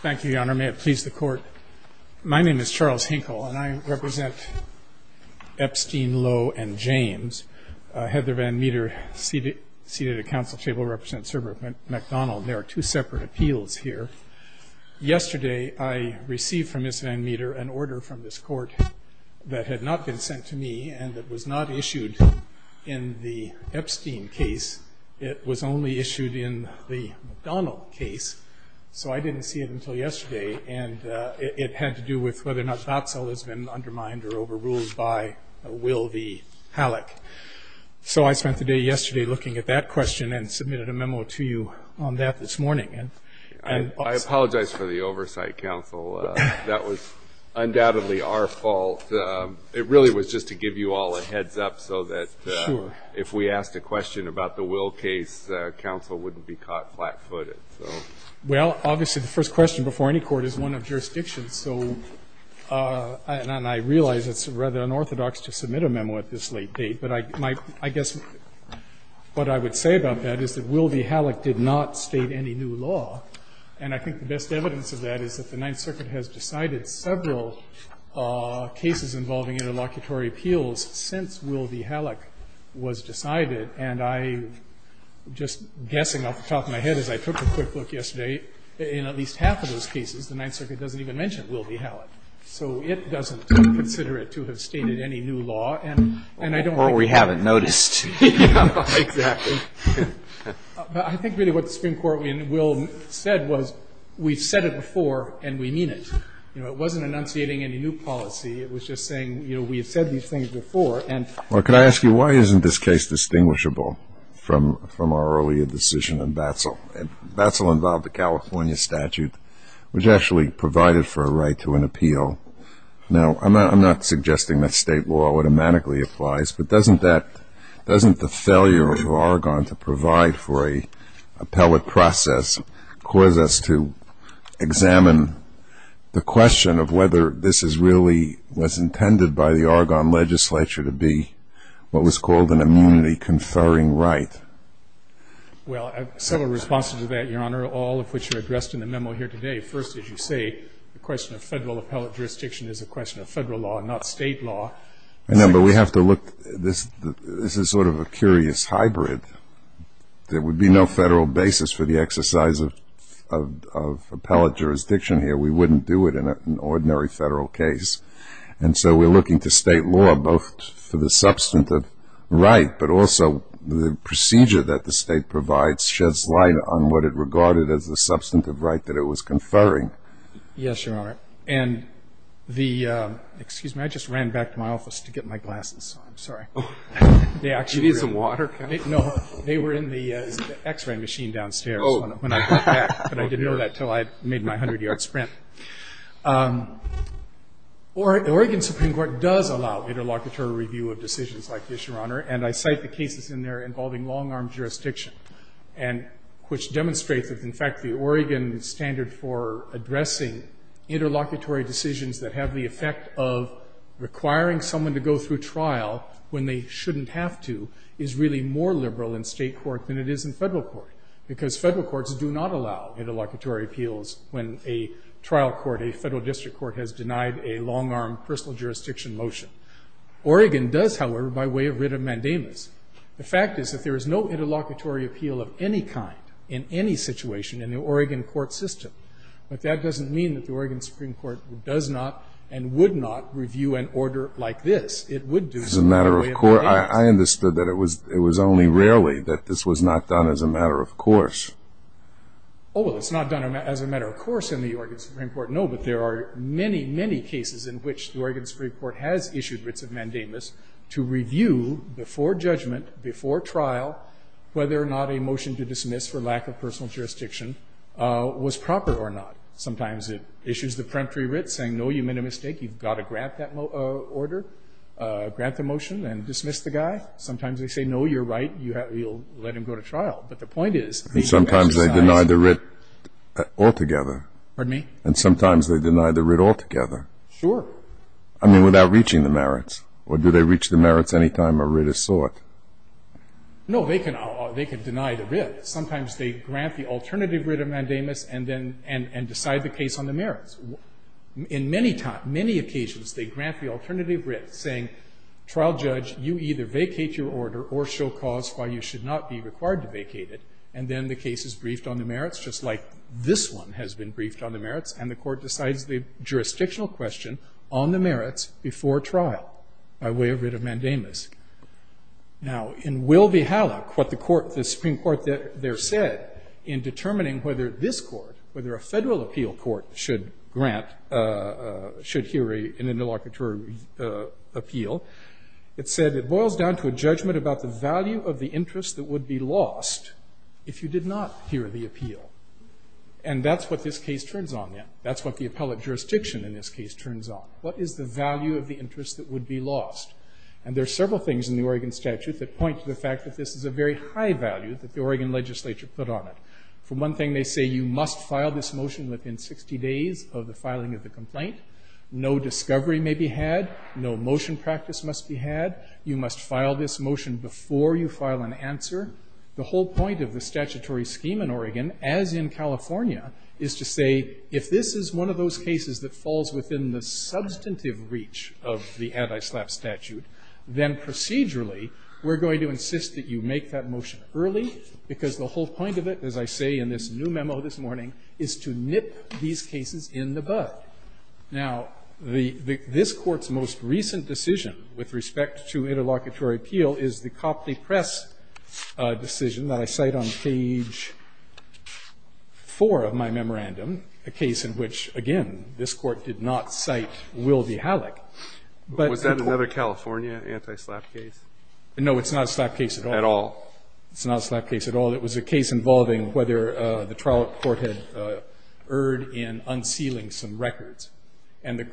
Thank you, Your Honor. May it please the Court. My name is Charles Hinkle, and I represent Epstein, Lowe, and James. Heather Van Meter, seated at counsel's table, represents Sir Robert MacDonnell. There are two separate appeals here. Yesterday, I received from Ms. Van Meter an order from this Court that had not been sent to me and that was not issued in the Epstein case. It was only issued in the MacDonnell case, so I didn't see it until yesterday. And it had to do with whether or not Botzel has been undermined or overruled by Will v. Halleck. So I spent the day yesterday looking at that question and submitted a memo to you on that this morning. I apologize for the oversight, counsel. That was undoubtedly our fault. It really was just to give you all a heads-up so that if we asked a question about the Will case, counsel wouldn't be caught flat-footed. Well, obviously, the first question before any court is one of jurisdiction. And I realize it's rather unorthodox to submit a memo at this late date. But I guess what I would say about that is that Will v. Halleck did not state any new law. And I think the best evidence of that is that the Ninth Circuit has decided several cases involving interlocutory appeals since Will v. Halleck was decided. And I'm just guessing off the top of my head, as I took a quick look yesterday, in at least half of those cases, the Ninth Circuit doesn't even mention Will v. Halleck. So it doesn't consider it to have stated any new law. And I don't think that's true. Well, we haven't noticed. Exactly. But I think really what the Supreme Court in Will said was we've said it before and we mean it. You know, it wasn't enunciating any new policy. It was just saying, you know, we've said these things before and we mean it. Well, could I ask you, why isn't this case distinguishable from our earlier decision in Batsell? And Batsell involved a California statute, which actually provided for a right to an appeal. Now, I'm not suggesting that state law automatically applies. But doesn't the failure of Argonne to provide for an appellate process cause us to examine the question of whether this really was intended by the Argonne legislature to be what was called an immunity-conferring right? Well, several responses to that, Your Honor, all of which are addressed in the memo here today. First, as you say, the question of federal appellate jurisdiction is a question of federal law, not state law. No, but we have to look. This is sort of a curious hybrid. There would be no federal basis for the exercise of appellate jurisdiction here. We wouldn't do it in an ordinary federal case. And so we're looking to state law both for the substantive right, but also the procedure that the state provides sheds light on what it regarded as the substantive right that it was conferring. Yes, Your Honor. And the, excuse me, I just ran back to my office to get my glasses. I'm sorry. Do you need some water? No. They were in the X-ray machine downstairs when I got back. But I didn't know that until I made my 100-yard sprint. The Oregon Supreme Court does allow interlocutory review of decisions like this, Your Honor. And I cite the cases in there involving long-arm jurisdiction, which demonstrates that, in fact, the Oregon standard for addressing interlocutory decisions that have the effect of requiring someone to go through trial when they shouldn't have to is really more liberal in state court than it is in federal court because federal courts do not allow interlocutory appeals when a trial court, a federal district court, has denied a long-arm personal jurisdiction motion. Oregon does, however, by way of writ of mandamus. The fact is that there is no interlocutory appeal of any kind in any situation in the Oregon court system. But that doesn't mean that the Oregon Supreme Court does not and would not review an order like this. It would do so by way of mandamus. As a matter of court, I understood that it was only rarely that this was not done as a matter of course. Oh, well, it's not done as a matter of course in the Oregon Supreme Court, no. But there are many, many cases in which the Oregon Supreme Court has issued writs of mandamus to determine before judgment, before trial, whether or not a motion to dismiss for lack of personal jurisdiction was proper or not. Sometimes it issues the peremptory writ saying, no, you made a mistake. You've got to grant that order, grant the motion, and dismiss the guy. Sometimes they say, no, you're right, you'll let him go to trial. But the point is, he's exercised his right. And sometimes they deny the writ altogether. Pardon me? Sure. I mean, without reaching the merits. Or do they reach the merits any time a writ is sought? No, they can deny the writ. Sometimes they grant the alternative writ of mandamus and then decide the case on the merits. In many occasions, they grant the alternative writ saying, trial judge, you either vacate your order or show cause why you should not be required to vacate it. And then the case is briefed on the merits, just like this one has been briefed on the merits. And the court decides the jurisdictional question on the merits before trial by way of writ of mandamus. Now, in Will v. Halleck, what the Supreme Court there said in determining whether this court, whether a federal appeal court should grant, should hear an interlocutory appeal, it said, it boils down to a judgment about the value of the interest that would be lost if you did not hear the appeal. And that's what this case turns on then. That's what the appellate jurisdiction in this case turns on. What is the value of the interest that would be lost? And there are several things in the Oregon statute that point to the fact that this is a very high value that the Oregon legislature put on it. For one thing, they say, you must file this motion within 60 days of the filing of the complaint. No discovery may be had. No motion practice must be had. You must file this motion before you file an answer. The whole point of the statutory scheme in Oregon, as in California, is to say, if this is one of those cases that falls within the substantive reach of the anti-SLAPP statute, then procedurally, we're going to insist that you make that motion early, because the whole point of it, as I say in this new memo this morning, is to nip these cases in the bud. Now, this Court's most recent decision with respect to interlocutory appeal is the Copley Press decision that I cite on page 4 of my memorandum, a case in which, again, this Court did not cite Will v. Halleck. But the court ---- Was that another California anti-SLAPP case? No. It's not a SLAPP case at all. At all. It's not a SLAPP case at all. It was a case involving whether the trial court had erred in unsealing some records. And the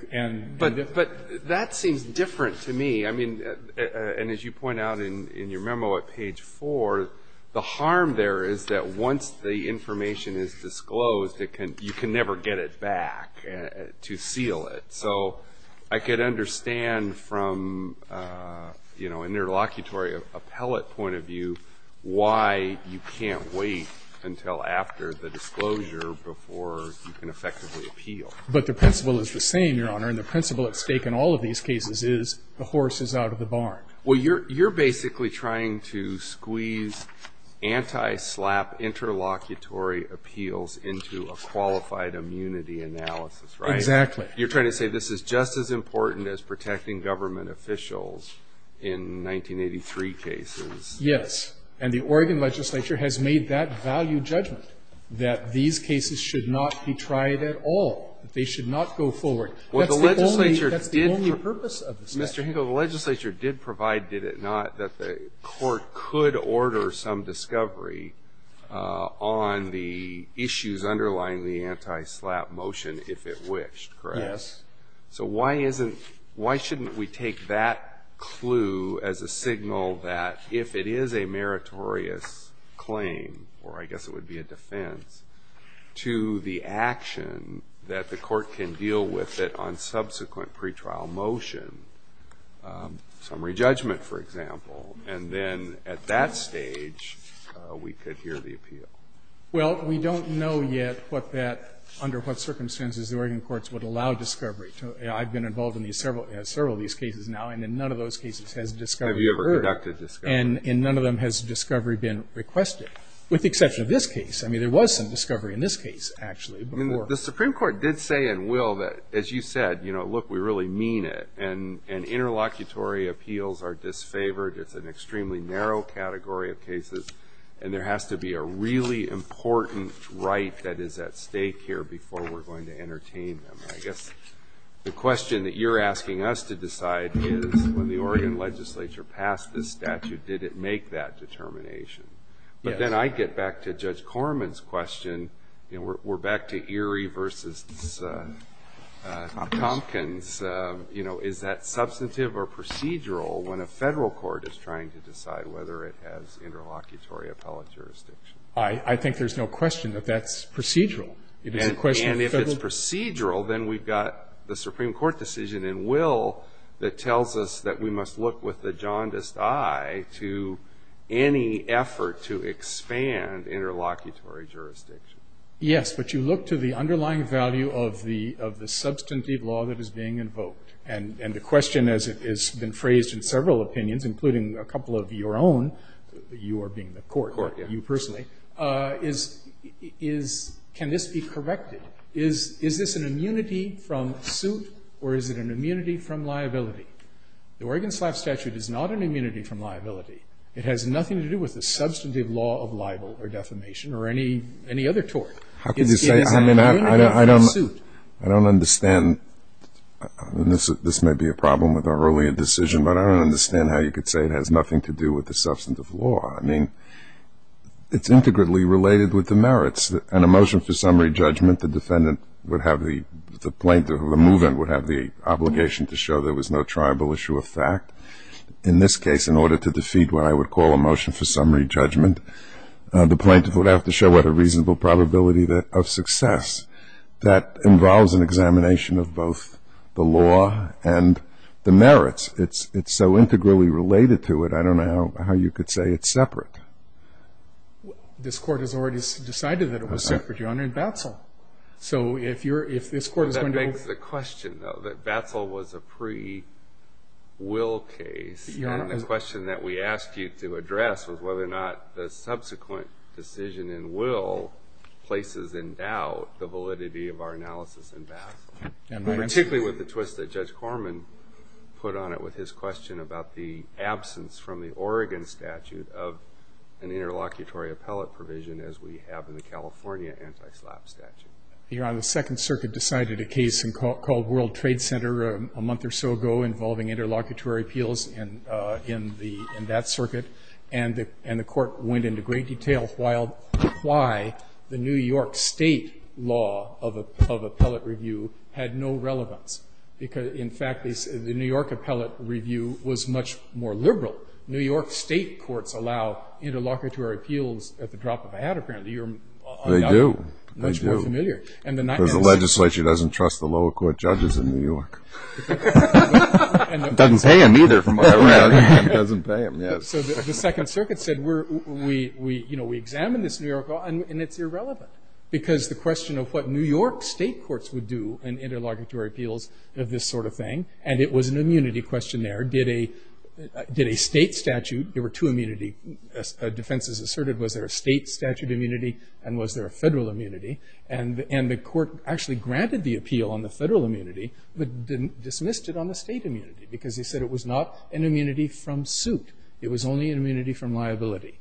---- But that seems different to me. I mean, and as you point out in your memo at page 4, the harm there is that once the information is disclosed, you can never get it back to seal it. So I could understand from, you know, an interlocutory appellate point of view why you can't wait until after the disclosure before you can effectively appeal. But the principle is the same, Your Honor, and the principle at stake in all of these cases is the horse is out of the barn. Well, you're basically trying to squeeze anti-SLAPP interlocutory appeals into a qualified immunity analysis, right? Exactly. You're trying to say this is just as important as protecting government officials in 1983 cases. Yes. And the Oregon legislature has made that value judgment, that these cases should not be tried at all, that they should not go forward. That's the only purpose of the statute. Mr. Hinkle, the legislature did provide, did it not, that the court could order some discovery on the issues underlying the anti-SLAPP motion if it wished, correct? Yes. So why isn't ---- why shouldn't we take that clue as a signal that if it is a meritorious claim, or I guess it would be a defense, to the action that the court can deal with it on subsequent pretrial motion, summary judgment, for example, and then at that stage we could hear the appeal? Well, we don't know yet what that, under what circumstances the Oregon courts would allow discovery. I've been involved in several of these cases now, and in none of those cases has discovery occurred. Have you ever conducted discovery? And in none of them has discovery been requested, with the exception of this case. I mean, there was some discovery in this case, actually. The Supreme Court did say in Will that, as you said, you know, look, we really mean it, and interlocutory appeals are disfavored. It's an extremely narrow category of cases, and there has to be a really important right that is at stake here before we're going to entertain them. I guess the question that you're asking us to decide is when the Oregon legislature passed this statute, did it make that determination? Yes. But then I get back to Judge Corman's question. You know, we're back to Erie v. Tompkins. You know, is that substantive or procedural when a Federal court is trying to decide whether it has interlocutory appellate jurisdiction? I think there's no question that that's procedural. And if it's procedural, then we've got the Supreme Court decision in Will that tells us that we must look with the jaundiced eye to any effort to expand interlocutory jurisdiction. Yes, but you look to the underlying value of the substantive law that is being invoked. And the question has been phrased in several opinions, including a couple of your own, you being the court, you personally, is can this be corrected? Is this an immunity from suit or is it an immunity from liability? The Oregon SLAF statute is not an immunity from liability. It has nothing to do with the substantive law of libel or defamation or any other tort. How can you say it's an immunity from suit? I don't understand. This may be a problem with our earlier decision, but I don't understand how you could say it has nothing to do with the substantive law. I mean, it's integrally related with the merits. In a motion for summary judgment, the defendant would have the plaintiff or the move-in would have the obligation to show there was no tribal issue of fact. In this case, in order to defeat what I would call a motion for summary judgment, the plaintiff would have to show what a reasonable probability of success. That involves an examination of both the law and the merits. It's so integrally related to it, I don't know how you could say it's separate. This Court has already decided that it was separate, Your Honor, in Batzel. That begs the question, though, that Batzel was a pre-will case. The question that we asked you to address was whether or not the subsequent decision in will places in doubt the validity of our analysis in Batzel, particularly with the twist that Judge Corman put on it with his question about the absence from the Oregon statute of an interlocutory appellate provision as we have in the California anti-slap statute. Your Honor, the Second Circuit decided a case called World Trade Center a month or so ago involving interlocutory appeals in that circuit. And the Court went into great detail why the New York State law of appellate review had no relevance. In fact, the New York appellate review was much more liberal. New York State courts allow interlocutory appeals at the drop of a hat, apparently. You're much more familiar. They do. They do. Because the legislature doesn't trust the lower court judges in New York. It doesn't pay them either, from what I read. It doesn't pay them, yes. So the Second Circuit said we examine this New York law, and it's irrelevant because the question of what New York State courts would do in interlocutory appeals of this sort of thing, and it was an immunity question there. Did a state statute, there were two immunity defenses asserted. Was there a state statute immunity, and was there a federal immunity? And the Court actually granted the appeal on the federal immunity, but dismissed it on the state immunity because he said it was not an immunity from suit. It was only an immunity from liability.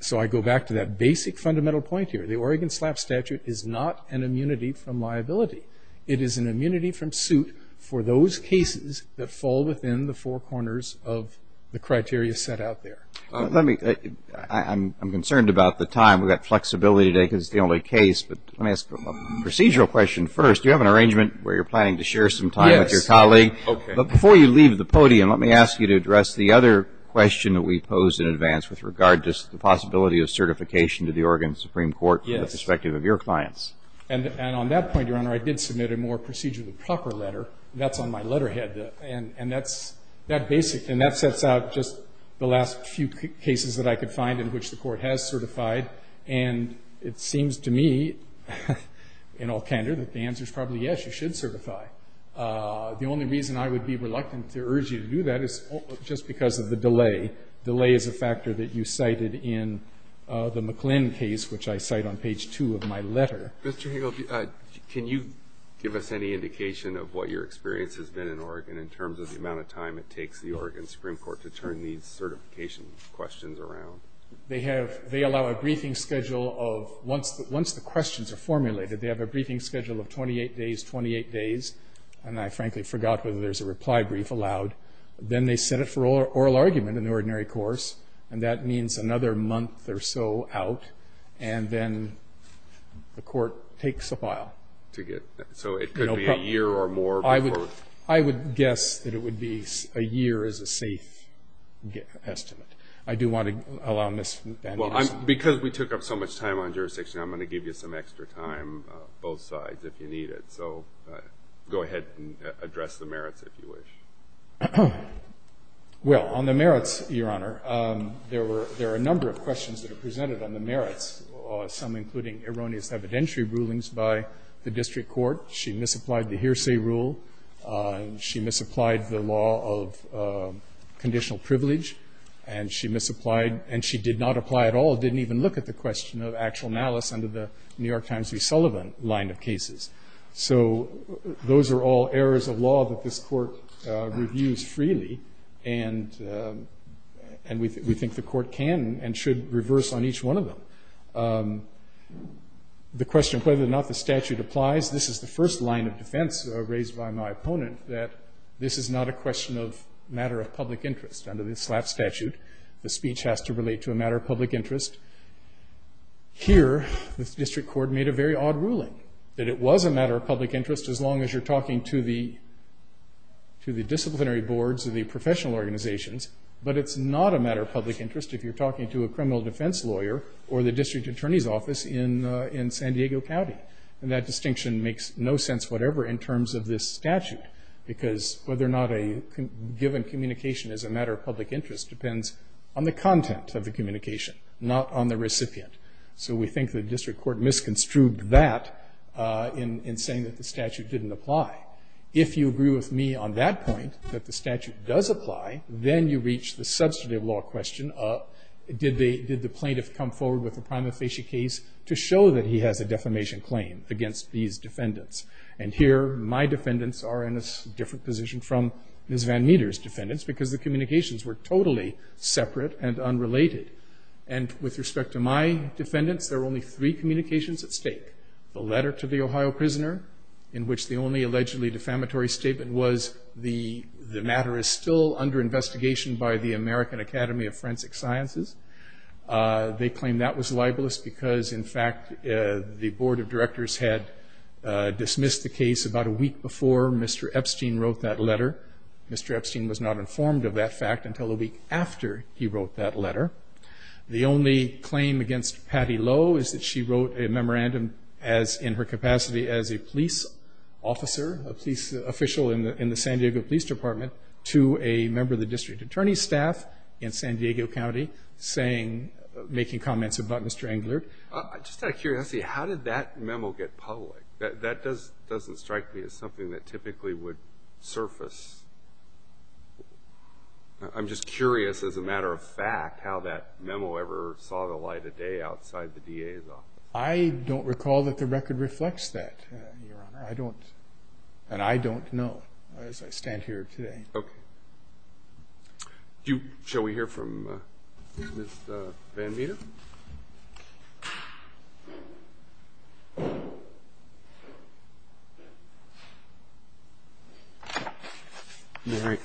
So I go back to that basic fundamental point here. The Oregon slap statute is not an immunity from liability. It is an immunity from suit for those cases that fall within the four corners of the criteria set out there. I'm concerned about the time. We've got flexibility today because it's the only case, but let me ask a procedural question first. Do you have an arrangement where you're planning to share some time with your colleague? Yes. Okay. But before you leave the podium, let me ask you to address the other question that we posed in advance with regard to the possibility of certification to the Oregon Supreme Court from the perspective of your clients. And on that point, Your Honor, I did submit a more procedurally proper letter. That's on my letterhead. And that's that basic. And that sets out just the last few cases that I could find in which the Court has certified. And it seems to me, in all candor, that the answer is probably yes, you should certify. The only reason I would be reluctant to urge you to do that is just because of the delay. Delay is a factor that you cited in the McClin case, which I cite on page 2 of my letter. Mr. Hagel, can you give us any indication of what your experience has been in Oregon in terms of the amount of time it takes the Oregon Supreme Court to turn these certification questions around? They allow a briefing schedule of, once the questions are formulated, they have a briefing schedule of 28 days, 28 days. And I frankly forgot whether there's a reply brief allowed. Then they set it for oral argument in the ordinary course. And that means another month or so out. And then the Court takes a file. So it could be a year or more before? I would guess that it would be a year as a safe estimate. I do want to allow Ms. Van Dien some time. Well, because we took up so much time on jurisdiction, I'm going to give you some extra time, both sides, if you need it. So go ahead and address the merits, if you wish. Well, on the merits, Your Honor, there are a number of questions that are presented on the merits, some including erroneous evidentiary rulings by the district court. She misapplied the hearsay rule. She misapplied the law of conditional privilege. And she misapplied and she did not apply at all, didn't even look at the question of actual malice under the New York Times v. Sullivan line of cases. So those are all errors of law that this Court reviews freely. And we think the Court can and should reverse on each one of them. The question of whether or not the statute applies, this is the first line of defense raised by my opponent, that this is not a question of matter of public interest. Under the SLAP statute, the speech has to relate to a matter of public interest. Here, the district court made a very odd ruling, that it was a matter of public interest if you're talking to a criminal defense lawyer or the district attorney's office in San Diego County. And that distinction makes no sense whatever in terms of this statute, because whether or not a given communication is a matter of public interest depends on the content of the communication, not on the recipient. So we think the district court misconstrued that in saying that the statute didn't apply. If you agree with me on that point, that the statute does apply, then you reach the substantive law question of did the plaintiff come forward with a prima facie case to show that he has a defamation claim against these defendants. And here, my defendants are in a different position from Ms. Van Meter's defendants, because the communications were totally separate and unrelated. And with respect to my defendants, there are only three communications at stake. The letter to the Ohio prisoner, in which the only allegedly defamatory statement was the matter is still under investigation by the American Academy of Forensic Sciences. They claim that was libelous, because in fact, the board of directors had dismissed the case about a week before Mr. Epstein wrote that letter. Mr. Epstein was not informed of that fact until the week after he wrote that letter. The only claim against Patty Lowe is that she wrote a memorandum in her capacity as a police officer, a police official in the San Diego Police Department, to a member of the district attorney staff in San Diego County making comments about Mr. Englert. I'm just curious. How did that memo get public? That doesn't strike me as something that typically would surface. I'm just curious, as a matter of fact, how that memo ever saw the light of day outside the DA's office. I don't recall that the record reflects that, Your Honor. And I don't know, as I stand here today. Okay. Shall we hear from Ms. Van Vita?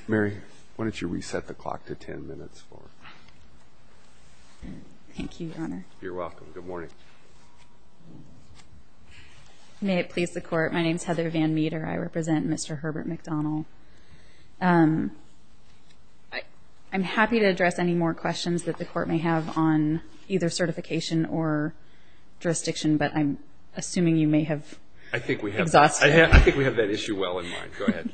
Mary, why don't you reset the clock to ten minutes? Thank you, Your Honor. You're welcome. Good morning. May it please the Court, my name is Heather Van Vita. I represent Mr. Herbert McDonald. I'm happy to address any more questions that the Court may have on either certification or jurisdiction, but I'm assuming you may have exhausted I think we have that issue well in mind. Go ahead.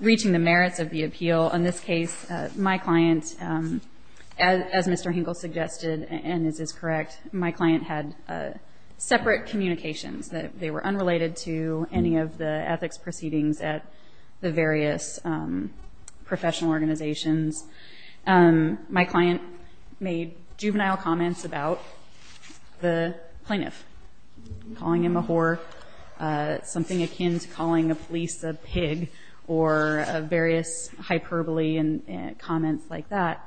Reaching the merits of the appeal. In this case, my client, as Mr. Englert suggested, and this is correct, my client had separate communications. They were unrelated to any of the ethics proceedings at the various professional organizations. My client made juvenile comments about the plaintiff, calling him a whore, something akin to calling the police a pig, or various hyperbole comments like that.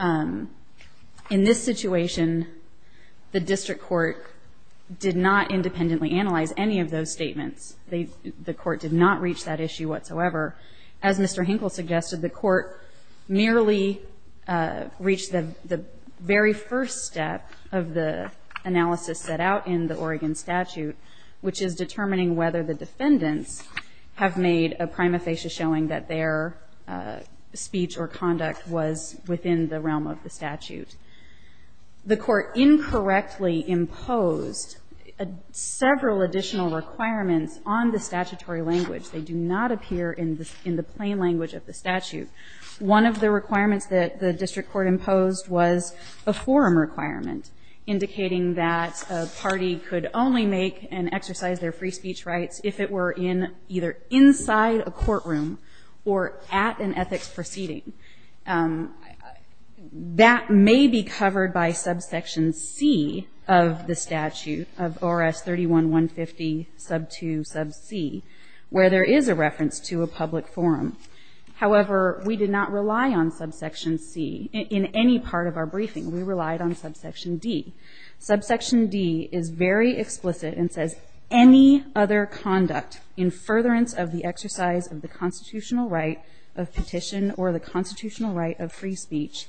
In this situation, the district court did not independently analyze any of those statements. The court did not reach that issue whatsoever. As Mr. Hinkle suggested, the court merely reached the very first step of the analysis set out in the Oregon statute, which is determining whether the defendants have made a prima facie showing that their speech or conduct was within the realm of the statute. The court incorrectly imposed several additional requirements on the statutory language. They do not appear in the plain language of the statute. One of the requirements that the district court imposed was a forum requirement, indicating that a party could only make and exercise their free speech rights if it were in either inside a courtroom or at an ethics proceeding. That may be covered by subsection C of the statute, of ORS 31-150, sub 2, sub C, where there is a reference to a public forum. However, we did not rely on subsection C in any part of our briefing. We relied on subsection D. Subsection D is very explicit and says any other conduct in furtherance of the exercise of the constitutional right of petition or the constitutional right of free speech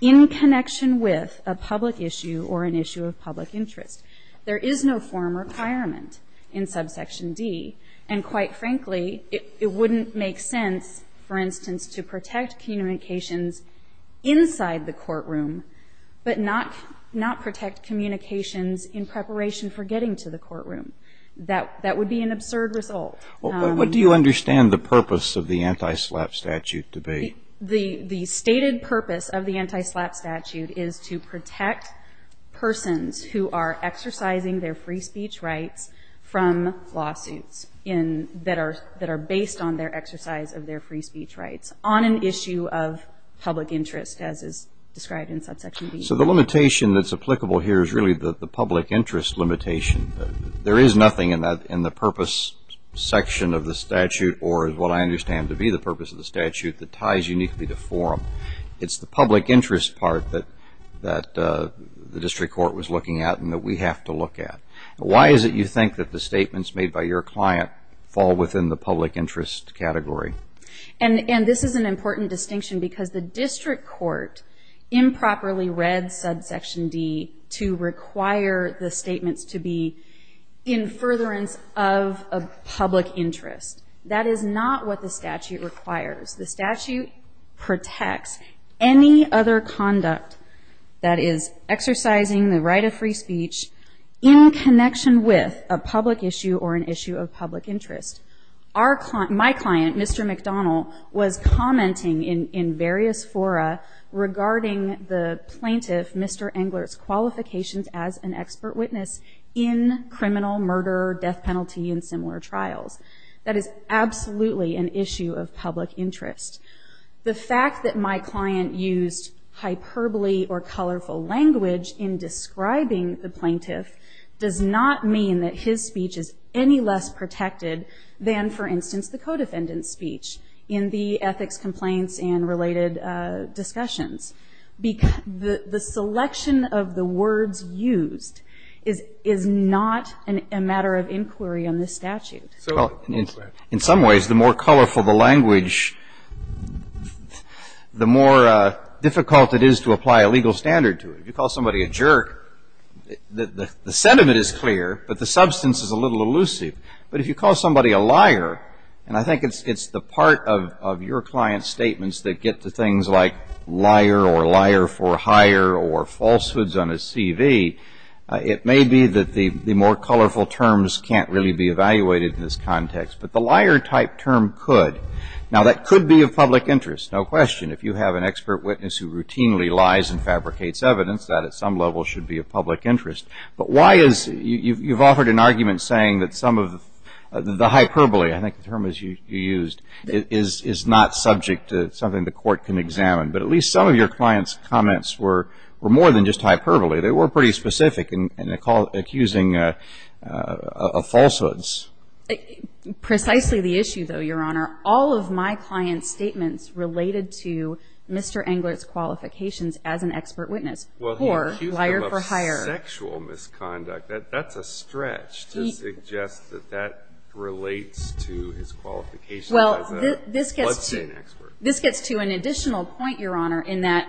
in connection with a public issue or an issue of public interest. There is no forum requirement in subsection D, and quite frankly, it wouldn't make sense, for instance, to protect communications inside the courtroom, but not protect communications in preparation for getting to the courtroom. That would be an absurd result. What do you understand the purpose of the anti-SLAPP statute to be? The stated purpose of the anti-SLAPP statute is to protect persons who are exercising their free speech rights from lawsuits that are based on their exercise of their free speech rights on an issue of public interest, as is described in subsection D. So the limitation that's applicable here is really the public interest limitation. There is nothing in the purpose section of the statute, or what I understand to be the purpose of the statute, that ties uniquely to forum. It's the public interest part that the district court was looking at and that we have to look at. Why is it you think that the statements made by your client fall within the public interest category? And this is an important distinction because the district court improperly read subsection D to require the statements to be in furtherance of a public interest. That is not what the statute requires. The statute protects any other conduct that is exercising the right of free speech in connection with a public issue or an issue of public interest. My client, Mr. McDonnell, was commenting in various fora regarding the plaintiff, Mr. Engler's qualifications as an expert witness in criminal murder, death penalty, and similar trials. That is absolutely an issue of public interest. The fact that my client used hyperbole or colorful language in describing the plaintiff does not mean that his speech is any less protected than, for instance, the codefendant's speech in the ethics complaints and related discussions. The selection of the words used is not a matter of inquiry on this statute. In some ways, the more colorful the language, the more difficult it is to apply a legal standard to it. If you call somebody a jerk, the sentiment is clear, but the substance is a little elusive. But if you call somebody a liar, and I think it's the part of your client's statements that get to things like liar or liar for hire or falsehoods on his CV, it may be that the more colorful terms can't really be evaluated in this context. But the liar-type term could. Now, that could be of public interest, no question. If you have an expert witness who routinely lies and fabricates evidence, that at some level should be of public interest. But why is you've offered an argument saying that some of the hyperbole, I think the term is used, is not subject to something the court can examine. But at least some of your client's comments were more than just hyperbole. They were pretty specific in accusing of falsehoods. Precisely the issue, though, Your Honor, all of my client's statements related to Mr. Englert's qualifications as an expert witness or liar for hire. Well, he accused him of sexual misconduct. That's a stretch to suggest that that relates to his qualifications as a budget expert. This gets to an additional point, Your Honor, in that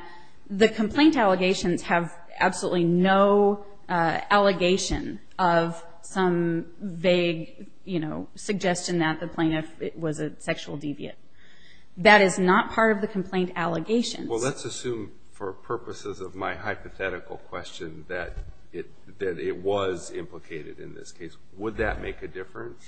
the complaint allegations have absolutely no allegation of some vague, you know, suggestion that the plaintiff was a sexual deviant. That is not part of the complaint allegations. Well, let's assume for purposes of my hypothetical question that it was implicated in this case. Would that make a difference?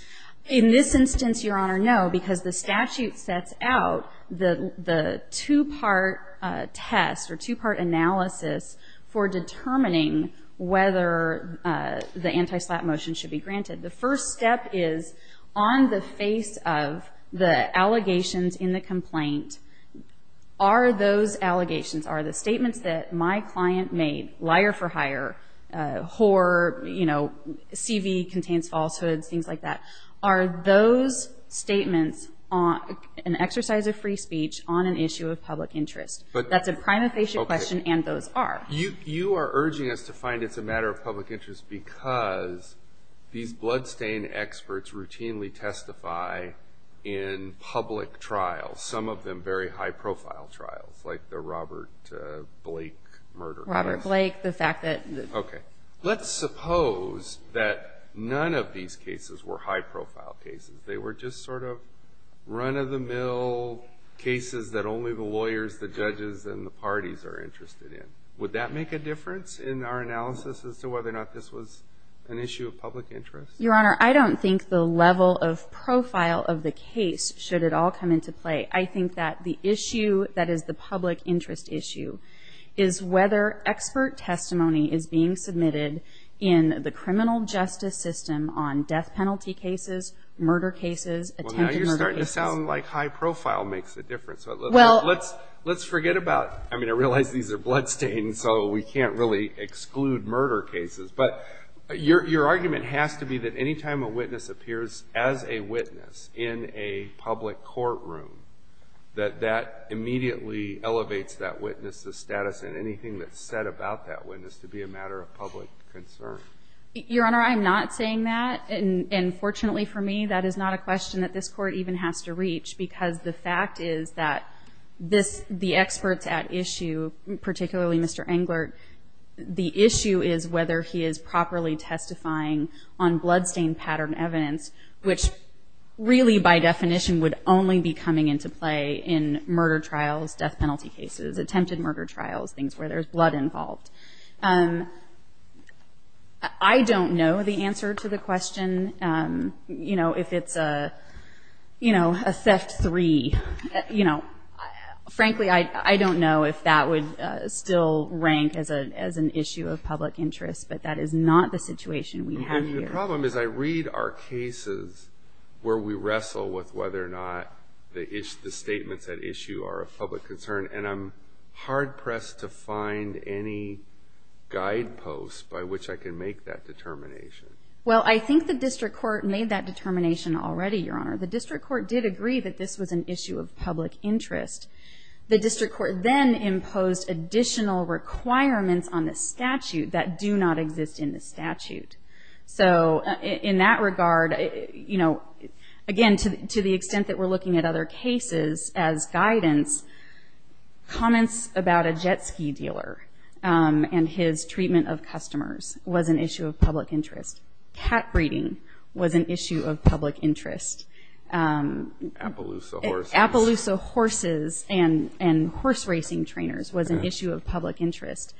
In this instance, Your Honor, no, because the statute sets out the two-part test or two-part analysis for determining whether the anti-slap motion should be granted. The first step is on the face of the allegations in the complaint, are those allegations, are the statements that my client made, liar for hire, whore, you know, CV contains falsehoods, things like that, are those statements an exercise of free speech on an issue of public interest? That's a prima facie question, and those are. You are urging us to find it's a matter of public interest because these bloodstain experts routinely testify in public trials, some of them very high-profile trials like the Robert Blake murder case. Robert Blake, the fact that. Okay. Let's suppose that none of these cases were high-profile cases. They were just sort of run-of-the-mill cases that only the lawyers, the judges, and the parties are interested in. Would that make a difference in our analysis as to whether or not this was an issue of public interest? Your Honor, I don't think the level of profile of the case should at all come into play. I think that the issue that is the public interest issue is whether expert testimony is being submitted in the criminal justice system on death penalty cases, murder cases, attempted murder cases. Well, now you're starting to sound like high profile makes a difference. Well. Let's forget about, I mean, I realize these are bloodstains, so we can't really exclude murder cases, but your argument has to be that any time a witness appears as a witness in a public courtroom, that that immediately elevates that witness's status and anything that's said about that witness to be a matter of public concern. Your Honor, I'm not saying that. And fortunately for me, that is not a question that this Court even has to reach because the fact is that this, the experts at issue, particularly Mr. Englert, the issue is whether he is properly testifying on bloodstain pattern evidence, which really by definition would only be coming into play in murder trials, death penalty cases, attempted murder trials, things where there's blood involved. I don't know the answer to the question, you know, if it's a, you know, a theft three. You know, frankly, I don't know if that would still rank as an issue of public interest, but that is not the situation we have here. The problem is I read our cases where we wrestle with whether or not the statements at issue are a public concern, and I'm hard pressed to find any guideposts by which I can make that determination. Well, I think the District Court made that determination already, Your Honor. The District Court did agree that this was an issue of public interest. The District Court then imposed additional requirements on the statute that do not exist in the statute. So in that regard, you know, again, to the extent that we're looking at other cases as guidance, comments about a jet ski dealer and his treatment of customers was an issue of public interest. Cat breeding was an issue of public interest. Appaloosa horses. Appaloosa horses and horse racing trainers was an issue of public interest.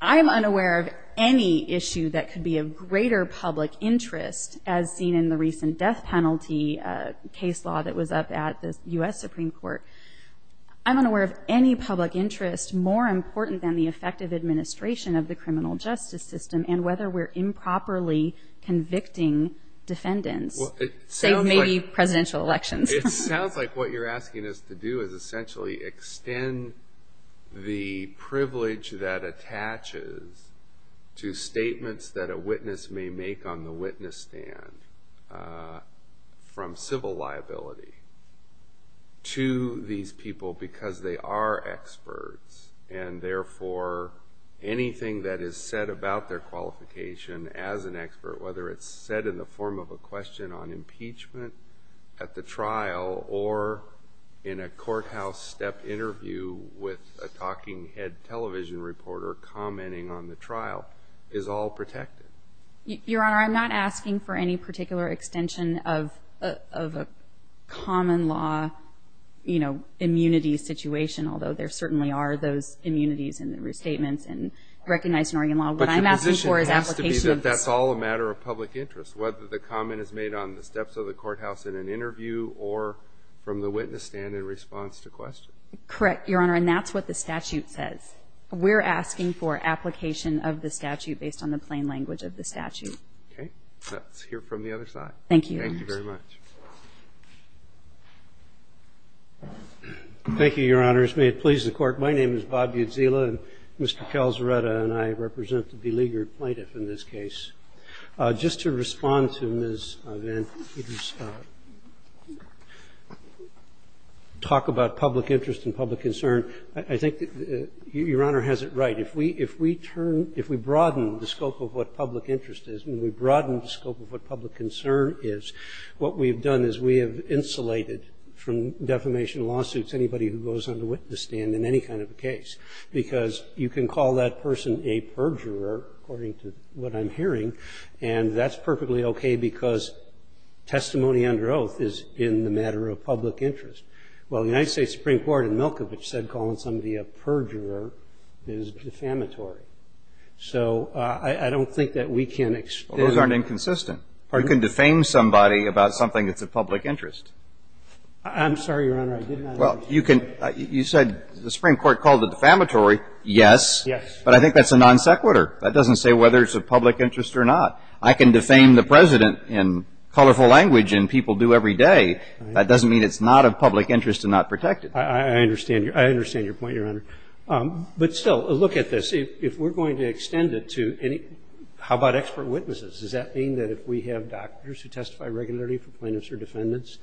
I'm unaware of any issue that could be of greater public interest, as seen in the recent death penalty case law that was up at the U.S. Supreme Court. I'm unaware of any public interest more important than the effective administration of the criminal justice system and whether we're improperly convicting defendants, say, maybe presidential elections. It sounds like what you're asking us to do is essentially extend the privilege that attaches to statements that a witness may make on the witness stand from civil liability to these people because they are experts and therefore anything that is said about their qualification as an expert, whether it's said in the form of a question on impeachment at the trial or in a courthouse step interview with a talking head television reporter commenting on the trial, is all protected. Your Honor, I'm not asking for any particular extension of a common law, you know, immunity situation, although there certainly are those immunities in the restatements and recognized in Oregon law. What I'm asking for is application of the statute. But the position has to be that that's all a matter of public interest, whether the comment is made on the steps of the courthouse in an interview or from the witness stand in response to questions. Correct, Your Honor, and that's what the statute says. We're asking for application of the statute based on the plain language of the statute. Okay. Let's hear from the other side. Thank you. Thank you very much. Thank you, Your Honors. May it please the Court. My name is Bob Udzila, and Mr. Calzareta and I represent the beleaguered plaintiff in this case. Just to respond to Ms. Van Eeden's talk about public interest and public concern, I think that Your Honor has it right. If we turn, if we broaden the scope of what public interest is and we broaden the scope of what public concern is, what we've done is we have insulated from defamation lawsuits anybody who goes on the witness stand in any kind of a case, because you can call that person a perjurer, according to what I'm hearing, and that's perfectly okay because testimony under oath is in the matter of public interest. Well, the United States Supreme Court in Milkovich said calling somebody a perjurer is defamatory. So I don't think that we can explain. Well, those aren't inconsistent. You can defame somebody about something that's of public interest. I'm sorry, Your Honor. I did not understand. Well, you said the Supreme Court called it defamatory. Yes. Yes. But I think that's a non sequitur. That doesn't say whether it's of public interest or not. I can defame the President in colorful language and people do every day. That doesn't mean it's not of public interest and not protected. I understand your point, Your Honor. But still, look at this. If we're going to extend it to any, how about expert witnesses? Does that mean that if we have doctors who testify regularly for plaintiffs or defendants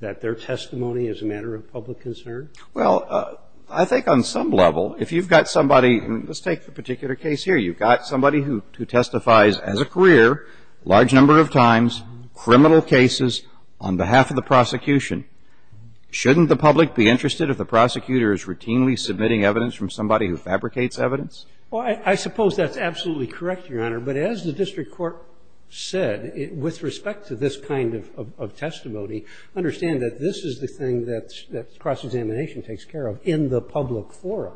that their testimony is a matter of public concern? Well, I think on some level, if you've got somebody, let's take the particular case here. You've got somebody who testifies as a career a large number of times, criminal cases on behalf of the prosecution. Shouldn't the public be interested if the prosecutor is routinely submitting evidence from somebody who fabricates evidence? Well, I suppose that's absolutely correct, Your Honor. But as the district court said, with respect to this kind of testimony, understand that this is the thing that cross-examination takes care of in the public forum.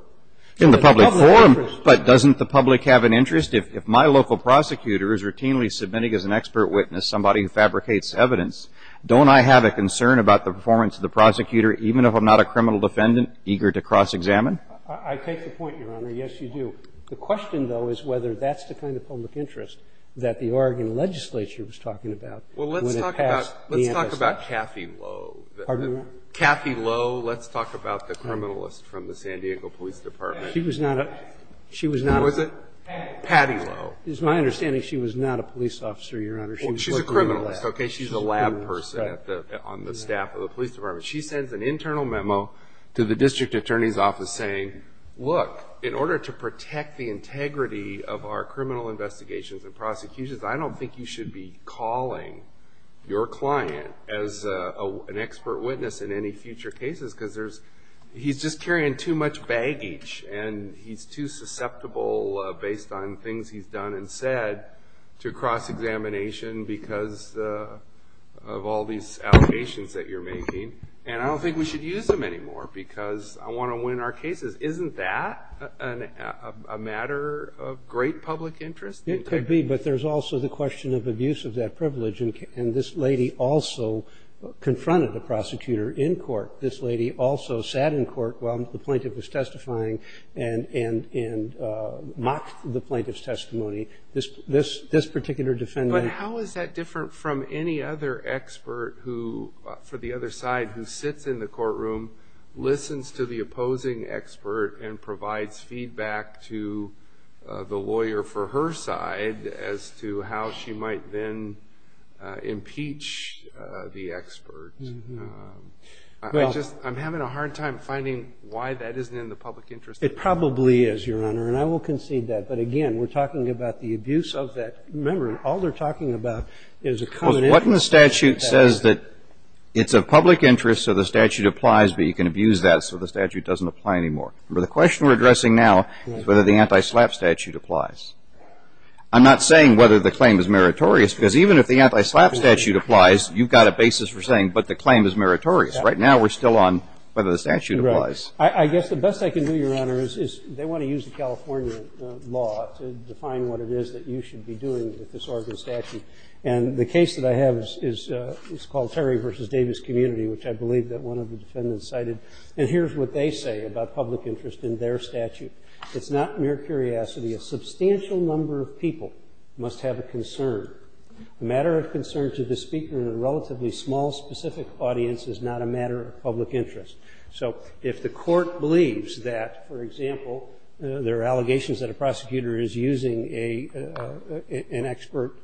In the public forum, but doesn't the public have an interest? If my local prosecutor is routinely submitting as an expert witness somebody who fabricates evidence, don't I have a concern about the performance of the prosecutor even if I'm not a criminal defendant eager to cross-examine? I take the point, Your Honor. Yes, you do. The question, though, is whether that's the kind of public interest that the Oregon legislature was talking about when it passed the amnesty act. Well, let's talk about Kathy Lowe. Pardon me? Kathy Lowe. Let's talk about the criminalist from the San Diego Police Department. She was not a – she was not a – Who was it? Patty. Patty Lowe. It's my understanding she was not a police officer, Your Honor. She was working in the lab. Well, she's a criminalist, okay? She's a lab person on the staff of the police department. She sends an internal memo to the district attorney's office saying, look, in order to protect the integrity of our criminal investigations and prosecutions, I don't think you should be calling your client as an expert witness in any future cases because there's – he's just carrying too much baggage and he's too susceptible based on things he's done and said to cross-examination because of all these allegations that you're making, and I don't think we should use them anymore because I want to win our cases. Isn't that a matter of great public interest? It could be, but there's also the question of abuse of that privilege, and this lady also confronted a prosecutor in court. This lady also sat in court while the plaintiff was testifying This particular defendant – But how is that different from any other expert for the other side who sits in the courtroom, listens to the opposing expert, and provides feedback to the lawyer for her side as to how she might then impeach the expert? I'm having a hard time finding why that isn't in the public interest. It probably is, Your Honor, and I will concede that. But, again, we're talking about the abuse of that. Remember, all they're talking about is a common interest. Well, what if the statute says that it's of public interest so the statute applies, but you can abuse that so the statute doesn't apply anymore? The question we're addressing now is whether the anti-SLAPP statute applies. I'm not saying whether the claim is meritorious because even if the anti-SLAPP statute applies, you've got a basis for saying, but the claim is meritorious. Right now, we're still on whether the statute applies. Right. I guess the best I can do, Your Honor, is they want to use the California law to define what it is that you should be doing with this Oregon statute. And the case that I have is called Terry v. Davis Community, which I believe that one of the defendants cited. And here's what they say about public interest in their statute. It's not mere curiosity. A substantial number of people must have a concern. The matter of concern to the speaker in a relatively small, specific audience is not a matter of public interest. So if the Court believes that, for example, there are allegations that a prosecutor is using an expert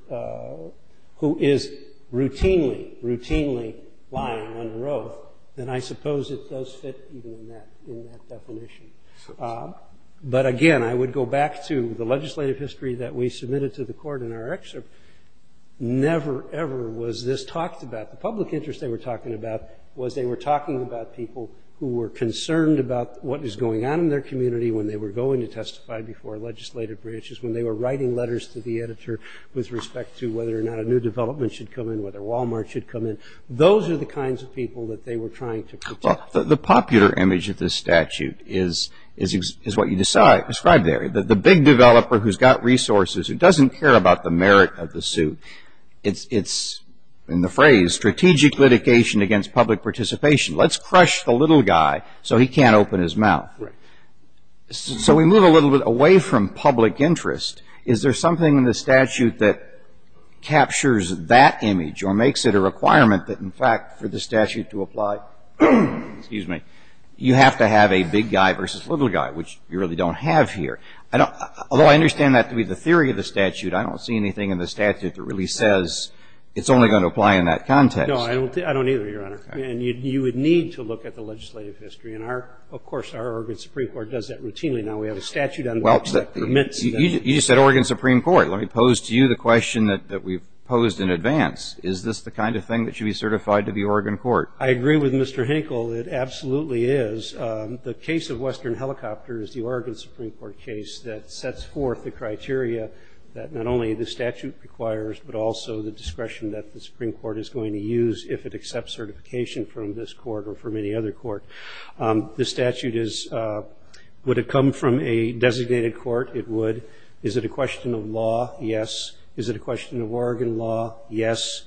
who is routinely, routinely lying under oath, then I suppose it does fit even in that definition. But again, I would go back to the legislative history that we submitted to the Court in our excerpt. Never, ever was this talked about. The public interest they were talking about was they were talking about people who were concerned about what was going on in their community when they were going to testify before legislative bridges, when they were writing letters to the editor with respect to whether or not a new development should come in, whether Walmart should come in. Those are the kinds of people that they were trying to protect. Well, the popular image of this statute is what you described there. The big developer who's got resources, who doesn't care about the merit of the suit, it's in the phrase strategic litigation against public participation. Let's crush the little guy so he can't open his mouth. Right. So we move a little bit away from public interest. Is there something in the statute that captures that image or makes it a requirement that, in fact, for the statute to apply? Excuse me. You have to have a big guy versus little guy, which you really don't have here. Although I understand that to be the theory of the statute, I don't see anything in the statute that really says it's only going to apply in that context. No, I don't either, Your Honor. And you would need to look at the legislative history. And, of course, our Oregon Supreme Court does that routinely now. We have a statute on which that permits that. You just said Oregon Supreme Court. Let me pose to you the question that we've posed in advance. Is this the kind of thing that should be certified to the Oregon court? I agree with Mr. Hinkle. It absolutely is. The case of Western Helicopters, the Oregon Supreme Court case, that sets forth the criteria that not only the statute requires but also the discretion that the Supreme Court is going to use if it accepts certification from this court or from any other court. The statute is, would it come from a designated court? It would. Is it a question of law? Yes. Is it a question of Oregon law? Yes.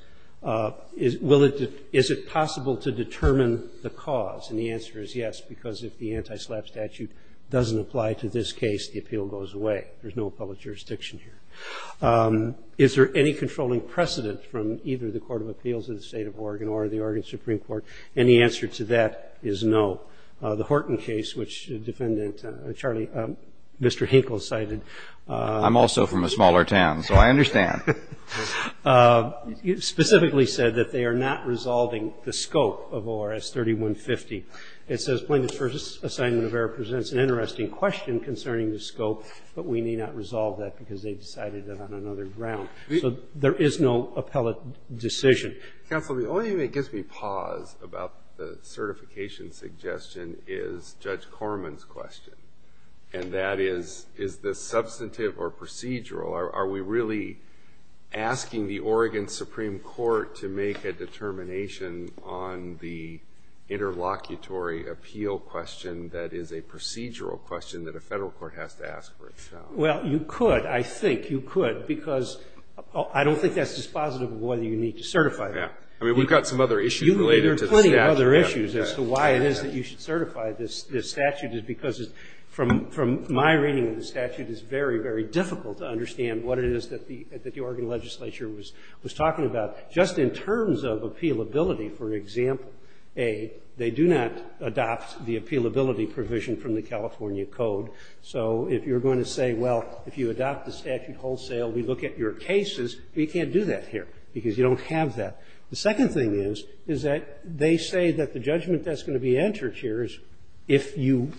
Is it possible to determine the cause? And the answer is yes, because if the anti-SLAPP statute doesn't apply to this case, the appeal goes away. There's no public jurisdiction here. Is there any controlling precedent from either the Court of Appeals of the State of Oregon or the Oregon Supreme Court? And the answer to that is no. The Horton case, which the defendant, Mr. Hinkle, cited. I'm also from a smaller town, so I understand. Specifically said that they are not resolving the scope of ORS 3150. It says plaintiff's first assignment of error presents an interesting question concerning the scope, but we need not resolve that because they decided it on another ground. So there is no appellate decision. Counsel, the only thing that gives me pause about the certification suggestion is Judge Corman's question, and that is, is this substantive or procedural? Are we really asking the Oregon Supreme Court to make a determination on the interlocutor appeal question that is a procedural question that a Federal court has to ask for itself? Well, you could. I think you could, because I don't think that's dispositive of whether you need to certify that. Yeah. I mean, we've got some other issues related to the statute. There are plenty of other issues as to why it is that you should certify this statute is because, from my reading of the statute, it's very, very difficult to understand what it is that the Oregon legislature was talking about. Just in terms of appealability, for example, A, they do not adopt the appealability provision from the California Code. So if you're going to say, well, if you adopt the statute wholesale, we look at your cases, we can't do that here because you don't have that. The second thing is, is that they say that the judgment that's going to be entered here is if you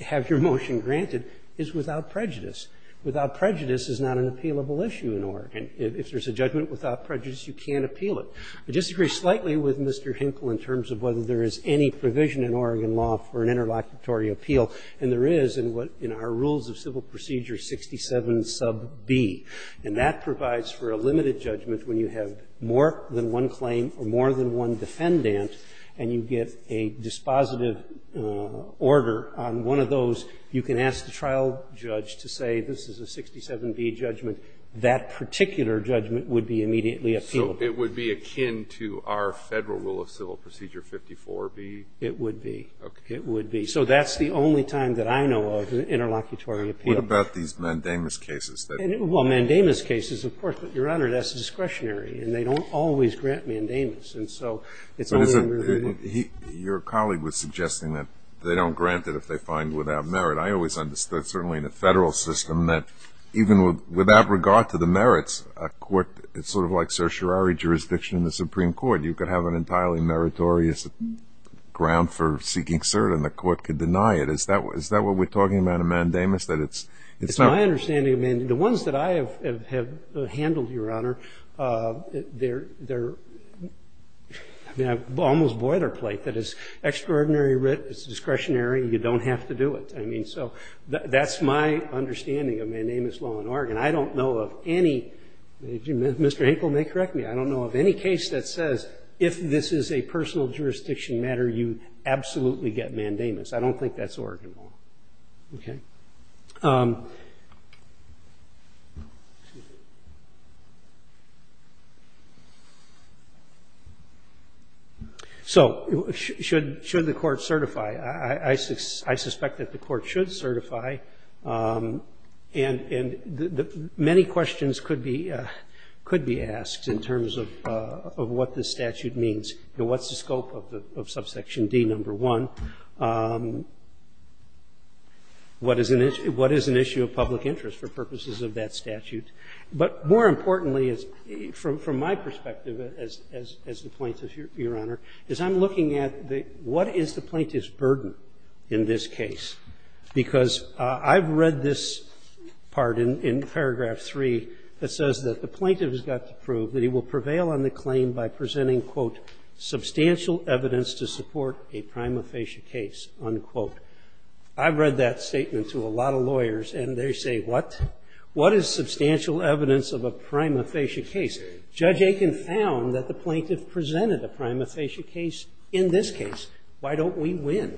have your motion granted is without prejudice. Without prejudice is not an appealable issue in Oregon. If there's a judgment without prejudice, you can't appeal it. I disagree slightly with Mr. Hinkle in terms of whether there is any provision in Oregon law for an interlocutory appeal, and there is in what in our rules of civil procedure 67 sub B. And that provides for a limited judgment when you have more than one claim or more than one defendant and you get a dispositive order on one of those, you can ask the immediately appealable. So it would be akin to our federal rule of civil procedure 54 B? It would be. Okay. It would be. So that's the only time that I know of interlocutory appeal. What about these mandamus cases? Well, mandamus cases, of course, but, Your Honor, that's discretionary, and they don't always grant mandamus. And so it's only in review. Your colleague was suggesting that they don't grant it if they find without merit. I always understood, certainly in the federal system, that even without regard to the merits, a court, it's sort of like certiorari jurisdiction in the Supreme Court. You could have an entirely meritorious ground for seeking cert, and the court could deny it. Is that what we're talking about, a mandamus, that it's not? It's my understanding of mandamus. The ones that I have handled, Your Honor, they're almost boilerplate. That is, extraordinary writ, it's discretionary, and you don't have to do it. I mean, so that's my understanding of mandamus law in Oregon. And I don't know of any Mr. Hinkle may correct me. I don't know of any case that says if this is a personal jurisdiction matter, you absolutely get mandamus. I don't think that's Oregon law. Okay? So should the court certify? I suspect that the court should certify. And many questions could be asked in terms of what this statute means and what's the scope of subsection D, number one. What is an issue of public interest for purposes of that statute? But more importantly, from my perspective as the plaintiff, Your Honor, is I'm looking at what is the plaintiff's burden in this case? Because I've read this part in paragraph 3 that says that the plaintiff has got to prove that he will prevail on the claim by presenting, quote, substantial evidence to support a prima facie case, unquote. I've read that statement to a lot of lawyers, and they say, what? What is substantial evidence of a prima facie case? Judge Aiken found that the plaintiff presented a prima facie case in this case. Why don't we win?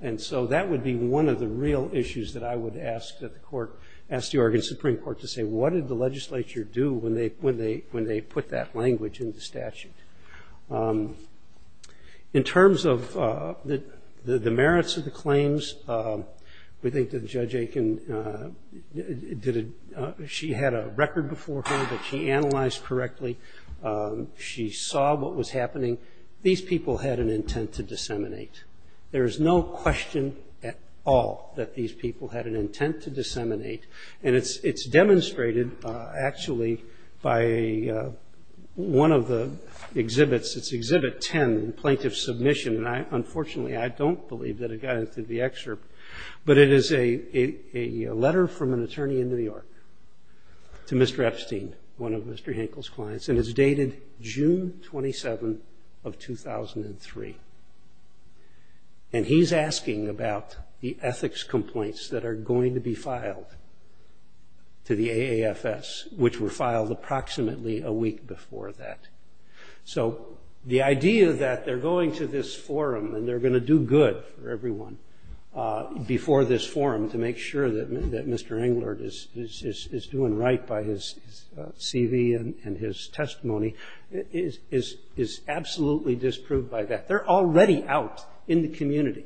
And so that would be one of the real issues that I would ask that the court, ask the Oregon Supreme Court to say, what did the legislature do when they put that language in the statute? In terms of the merits of the claims, we think that Judge Aiken did a – she had a record before her that she analyzed correctly. She saw what was happening. These people had an intent to disseminate. There is no question at all that these people had an intent to disseminate. And it's demonstrated, actually, by one of the exhibits. It's Exhibit 10, Plaintiff's Submission. And unfortunately, I don't believe that it got into the excerpt. But it is a letter from an attorney in New York to Mr. Epstein, one of Mr. Epstein's attorneys, on June 27th of 2003. And he's asking about the ethics complaints that are going to be filed to the AAFS, which were filed approximately a week before that. So the idea that they're going to this forum and they're going to do good for everyone before this forum to make sure that Mr. Englert is doing right by his CV and his testimony is absolutely disproved by that. They're already out in the community.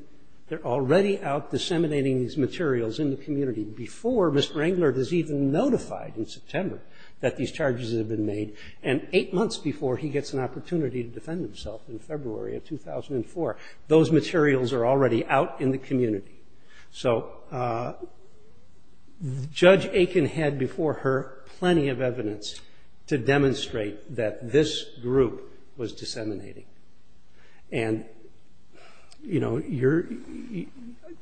They're already out disseminating these materials in the community before Mr. Englert is even notified in September that these charges have been made. And eight months before, he gets an opportunity to defend himself in February Those materials are already out in the community. So Judge Aiken had before her plenty of evidence to demonstrate that this group was disseminating. And, you know,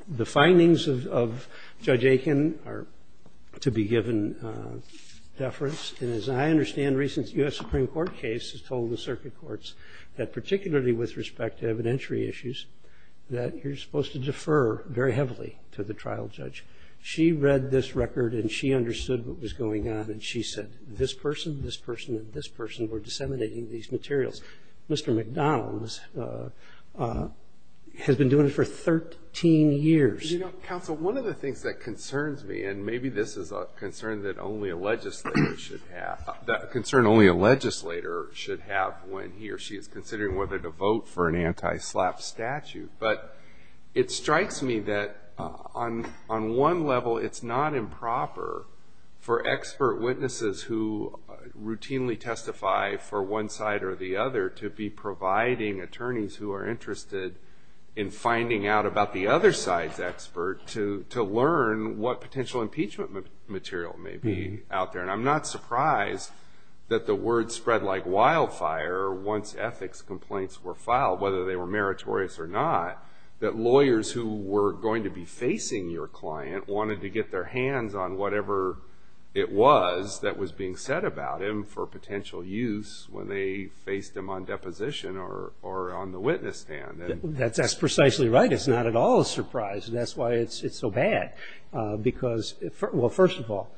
the findings of Judge Aiken are to be given deference. And as I understand, a recent U.S. Supreme Court case has told the circuit courts that particularly with respect to evidentiary issues, that you're supposed to defer very heavily to the trial judge. She read this record and she understood what was going on and she said, this person, this person, and this person were disseminating these materials. Mr. McDonald has been doing it for 13 years. You know, counsel, one of the things that concerns me, and maybe this is a concern that only a legislator should have, a concern only a legislator should have when he or she is considering whether to vote for an anti-SLAPP statute. But it strikes me that on one level, it's not improper for expert witnesses who routinely testify for one side or the other to be providing attorneys who are interested in finding out about the other side's expert to learn what potential impeachment material may be out there. And I'm not surprised that the word spread like wildfire once ethics complaints were filed, whether they were meritorious or not, that lawyers who were going to be facing your client wanted to get their hands on whatever it was that was being said about him for potential use when they faced him on deposition or on the witness stand. That's precisely right. It's not at all a surprise, and that's why it's so bad. Because, well, first of all,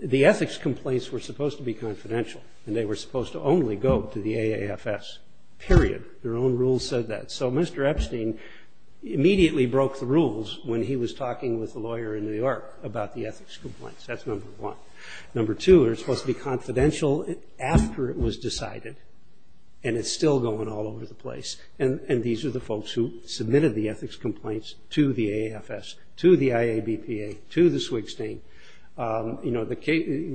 the ethics complaints were supposed to be confidential and they were supposed to only go to the AAFS, period. Their own rules said that. So Mr. Epstein immediately broke the rules when he was talking with a lawyer in New York about the ethics complaints. That's number one. Number two, they're supposed to be confidential after it was decided, and it's still going all over the place. And these are the folks who submitted the ethics complaints to the AAFS, to the IABPA, to the Swigstein. You know,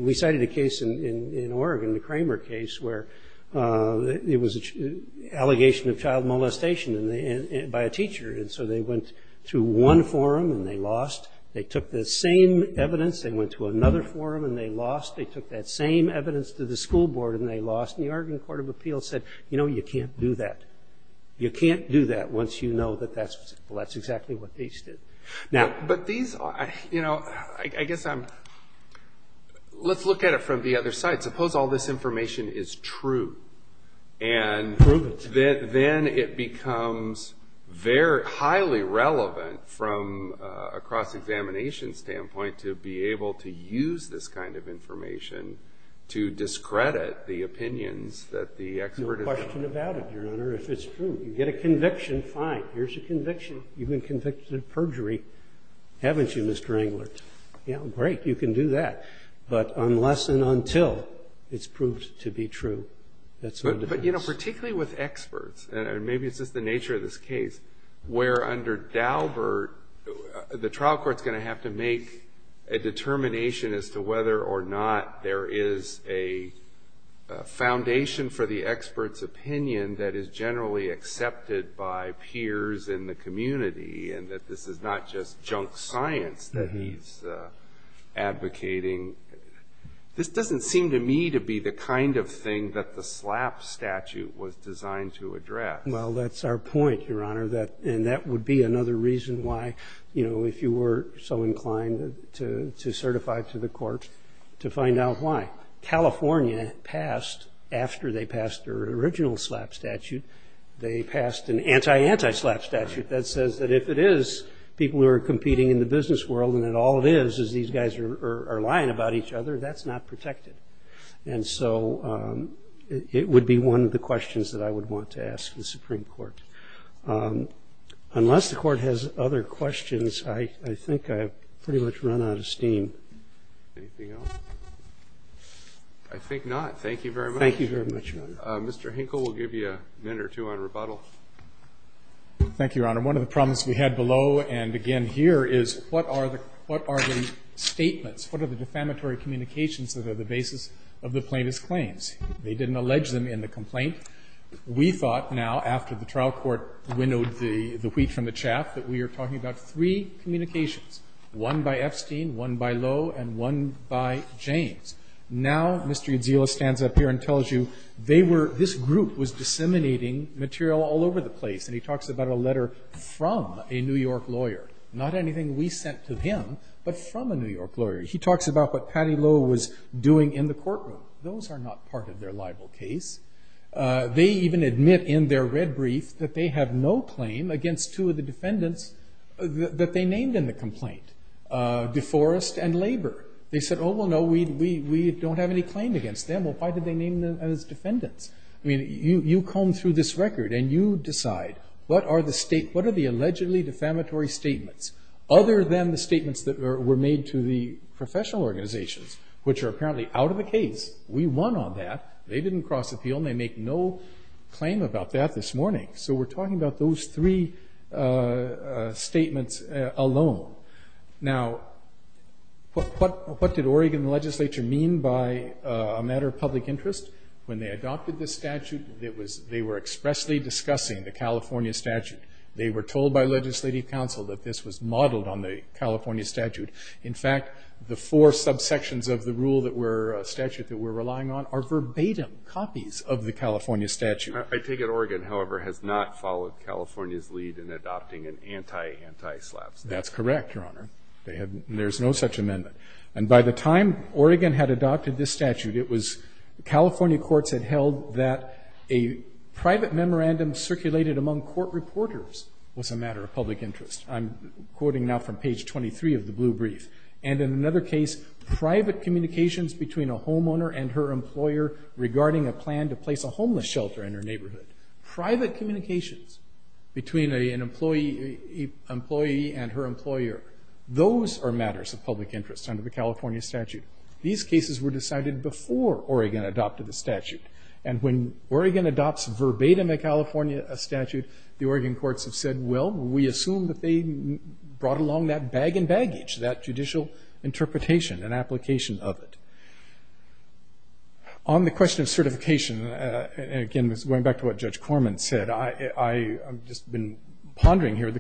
we cited a case in Oregon, the Kramer case, where it was an allegation of child molestation by a teacher. And so they went to one forum and they lost. They took the same evidence and went to another forum and they lost. They took that same evidence to the school board and they lost. And the Oregon Court of Appeals said, you know, you can't do that. You can't do that once you know that that's exactly what these did. But these, you know, I guess I'm – let's look at it from the other side. Suppose all this information is true. And then it becomes highly relevant from a cross-examination standpoint to be able to use this kind of information to discredit the opinions that the expert is – No question about it, Your Honor, if it's true. Here's a conviction. You've been convicted of perjury, haven't you, Mr. Englert? Yeah, great. You can do that. But unless and until it's proved to be true, that's not the case. But, you know, particularly with experts, and maybe it's just the nature of this case, where under Daubert, the trial court's going to have to make a determination as to whether or not there is a foundation for the expert's opinion that is generally accepted by peers in the community and that this is not just junk science that he's advocating. This doesn't seem to me to be the kind of thing that the SLAP statute was designed to address. Well, that's our point, Your Honor, and that would be another reason why, you know, if you were so inclined to certify to the court, to find out why. California passed, after they passed their original SLAP statute, they passed an anti-anti-SLAP statute that says that if it is people who are competing in the business world and that all it is is these guys are lying about each other, that's not protected. And so it would be one of the questions that I would want to ask the Supreme Court. Unless the court has other questions, I think I've pretty much run out of steam. Anything else? I think not. Thank you very much. Thank you very much, Your Honor. Mr. Hinkle will give you a minute or two on rebuttal. Thank you, Your Honor. One of the problems we had below and again here is what are the statements, what are the defamatory communications that are the basis of the plaintiff's claims? They didn't allege them in the complaint. We thought now, after the trial court winnowed the wheat from the chaff, that we are talking about three communications, one by Epstein, one by Lowe, and one by James. Now Mr. Idzilla stands up here and tells you they were, this group was disseminating material all over the place. And he talks about a letter from a New York lawyer, not anything we sent to him, but from a New York lawyer. He talks about what Patty Lowe was doing in the courtroom. Those are not part of their libel case. They even admit in their red brief that they have no claim against two of the defendants that they named in the complaint, DeForest and Labor. They said, oh, well, no, we don't have any claim against them. Well, why did they name them as defendants? I mean, you comb through this record and you decide what are the state, what are the allegedly defamatory statements, other than the statements that were made to the professional organizations, which are apparently out of the case. We won on that. They didn't cross appeal and they make no claim about that this morning. So we're talking about those three statements alone. Now, what did Oregon legislature mean by a matter of public interest when they adopted this statute? They were expressly discussing the California statute. They were told by legislative council that this was modeled on the California statute. In fact, the four subsections of the rule that were a statute that we're relying on are verbatim copies of the California statute. I take it Oregon, however, has not followed California's lead in adopting an anti-anti-SLAP statute. That's correct, Your Honor. There's no such amendment. And by the time Oregon had adopted this statute, it was California courts had held that a private memorandum circulated among court reporters was a matter of public interest. I'm quoting now from page 23 of the blue brief. And in another case, private communications between a homeowner and her employer regarding a plan to place a homeless shelter in her neighborhood, private communications between an employee and her employer, those are matters of public interest under the California statute. These cases were decided before Oregon adopted the statute. And when Oregon adopts verbatim a California statute, the Oregon courts have said, well, we assume that they brought along that bag and baggage, that judicial interpretation and application of it. On the question of certification, again going back to what Judge Corman said, I've just been pondering here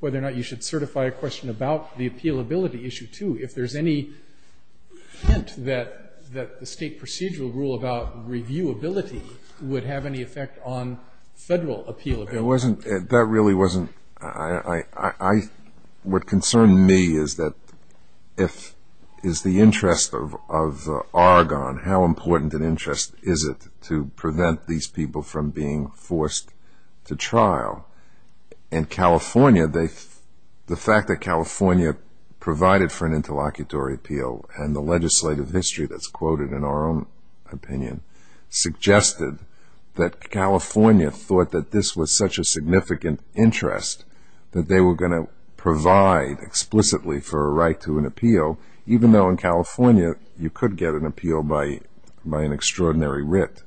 whether or not you should certify a question about the appealability issue, too. If there's any hint that the state procedural rule about reviewability would have any effect on federal appealability. It wasn't. That really wasn't. What concerned me is that if the interest of Oregon, how important an interest is it to prevent these people from being forced to trial. And California, the fact that California provided for an interlocutory appeal and the legislative history that's quoted in our own opinion, suggested that California thought that this was such a significant interest that they were going to provide explicitly for a right to an appeal, even though in California you could get an appeal by an extraordinary writ.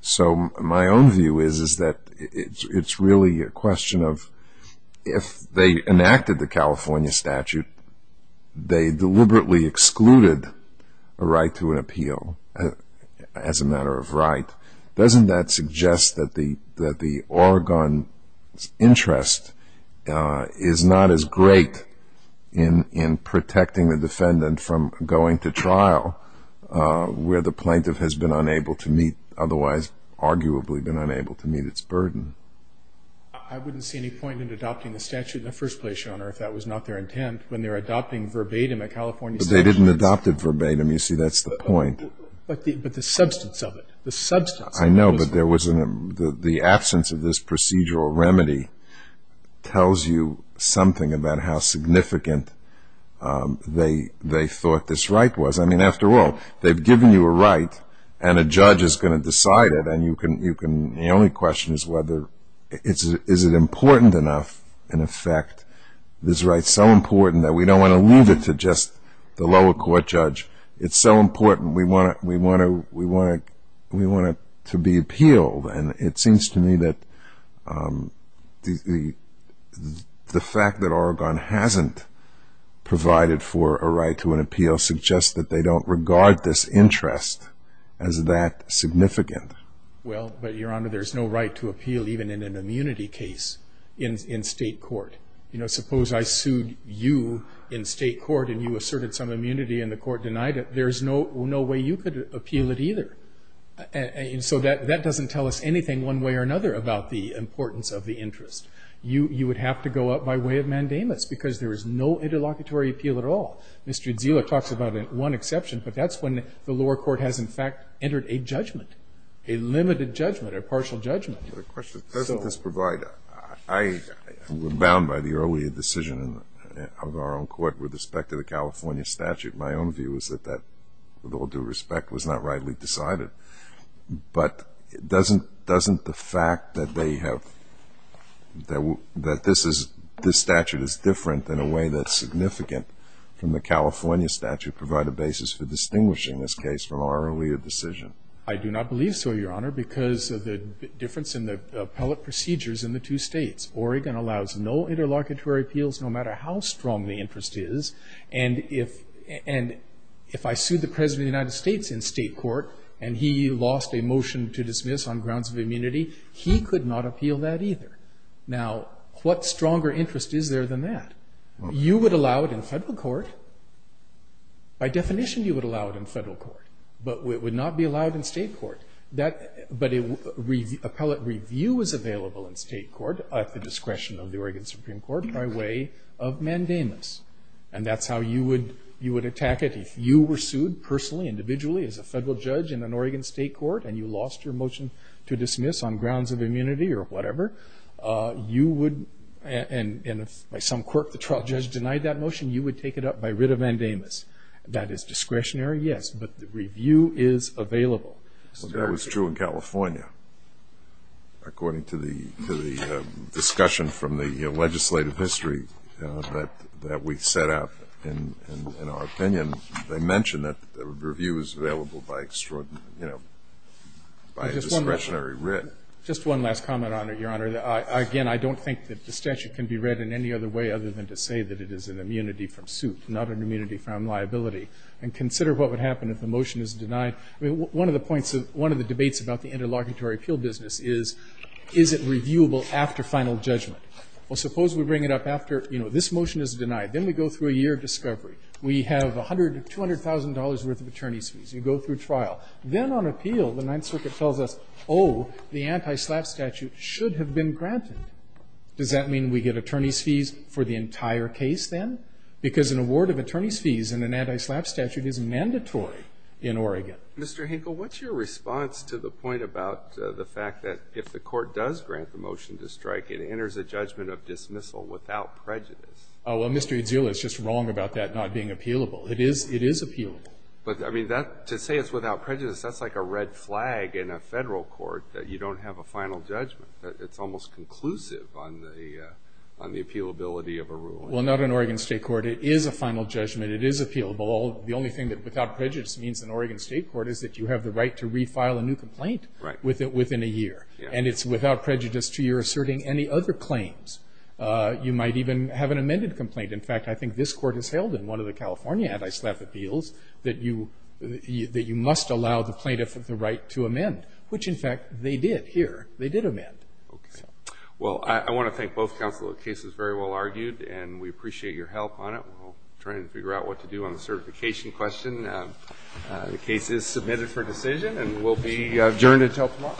So my own view is that it's really a question of if they enacted the California statute, they deliberately excluded a right to an appeal as a matter of right. Doesn't that suggest that the Oregon interest is not as great in protecting the defendant from going to trial where the plaintiff has been unable to meet, otherwise arguably been unable to meet its burden? I wouldn't see any point in adopting the statute in the first place, Your Honor, if that was not their intent, when they're adopting verbatim a California statute. But they didn't adopt it verbatim. You see, that's the point. But the substance of it, the substance. I know, but the absence of this procedural remedy tells you something about how significant they thought this right was. I mean, after all, they've given you a right and a judge is going to decide it and the only question is whether is it important enough, in effect, this right is so important that we don't want to leave it to just the lower court judge. It's so important. We want it to be appealed. And it seems to me that the fact that Oregon hasn't provided for a right to an appeal suggests that they don't regard this interest as that significant. Well, but, Your Honor, there's no right to appeal even in an immunity case in state court. You know, suppose I sued you in state court and you asserted some immunity and the court denied it. There's no way you could appeal it either. And so that doesn't tell us anything one way or another about the importance of the interest. You would have to go up by way of mandamus because there is no interlocutory appeal at all. Mr. Udzila talks about one exception, but that's when the lower court has, in fact, entered a judgment, a limited judgment, a partial judgment. The question is doesn't this provide a – I was bound by the earlier decision of our own court with respect to the California statute. My own view is that that, with all due respect, was not rightly decided. But doesn't the fact that they have – that this statute is different in a way that's significant from the California statute provide a basis for distinguishing this case from our earlier decision? I do not believe so, Your Honor, because of the difference in the appellate procedures in the two states. Oregon allows no interlocutory appeals no matter how strong the interest is. And if I sued the President of the United States in state court and he lost a motion to dismiss on grounds of immunity, he could not appeal that either. Now, what stronger interest is there than that? You would allow it in federal court. By definition, you would allow it in federal court, but it would not be allowed in state court. But appellate review is available in state court at the discretion of the Oregon Supreme Court by way of mandamus. And that's how you would attack it if you were sued personally, individually, as a federal judge in an Oregon state court and you lost your motion to dismiss on grounds of immunity or whatever, you would – and if by some quirk the trial judge denied that motion, you would take it up by writ of mandamus. That is discretionary, yes, but the review is available. That was true in California. According to the discussion from the legislative history that we set up, in our opinion, they mention that the review is available by extraordinary – you know, by a discretionary writ. Just one last comment, Your Honor. Again, I don't think that the statute can be read in any other way other than to say that it is an immunity from suit, not an immunity from liability. And consider what would happen if the motion is denied. I mean, one of the points of – one of the debates about the interlocutory appeal business is, is it reviewable after final judgment? Well, suppose we bring it up after, you know, this motion is denied. Then we go through a year of discovery. We have $100,000 to $200,000 worth of attorney's fees. You go through trial. Then on appeal, the Ninth Circuit tells us, oh, the anti-SLAPP statute should have been granted. Does that mean we get attorney's fees for the entire case then? Because an award of attorney's fees in an anti-SLAPP statute is mandatory in Oregon. Mr. Hinkle, what's your response to the point about the fact that if the Court does grant the motion to strike, it enters a judgment of dismissal without prejudice? Oh, well, Mr. Edzula, it's just wrong about that not being appealable. It is – it is appealable. But, I mean, that – to say it's without prejudice, that's like a red flag in a federal court, that you don't have a final judgment. It's almost conclusive on the – on the appealability of a ruling. Well, not in Oregon State Court. It is a final judgment. It is appealable. The only thing that without prejudice means in Oregon State Court is that you have the right to refile a new complaint. Right. Within a year. And it's without prejudice to your asserting any other claims. You might even have an amended complaint. In fact, I think this Court has held in one of the California anti-SLAPP appeals that you – that you must allow the plaintiff the right to amend. Which, in fact, they did here. They did amend. Okay. Well, I want to thank both counsel. The case was very well argued, and we appreciate your help on it. We're trying to figure out what to do on the certification question. The case is submitted for decision and will be adjourned until tomorrow.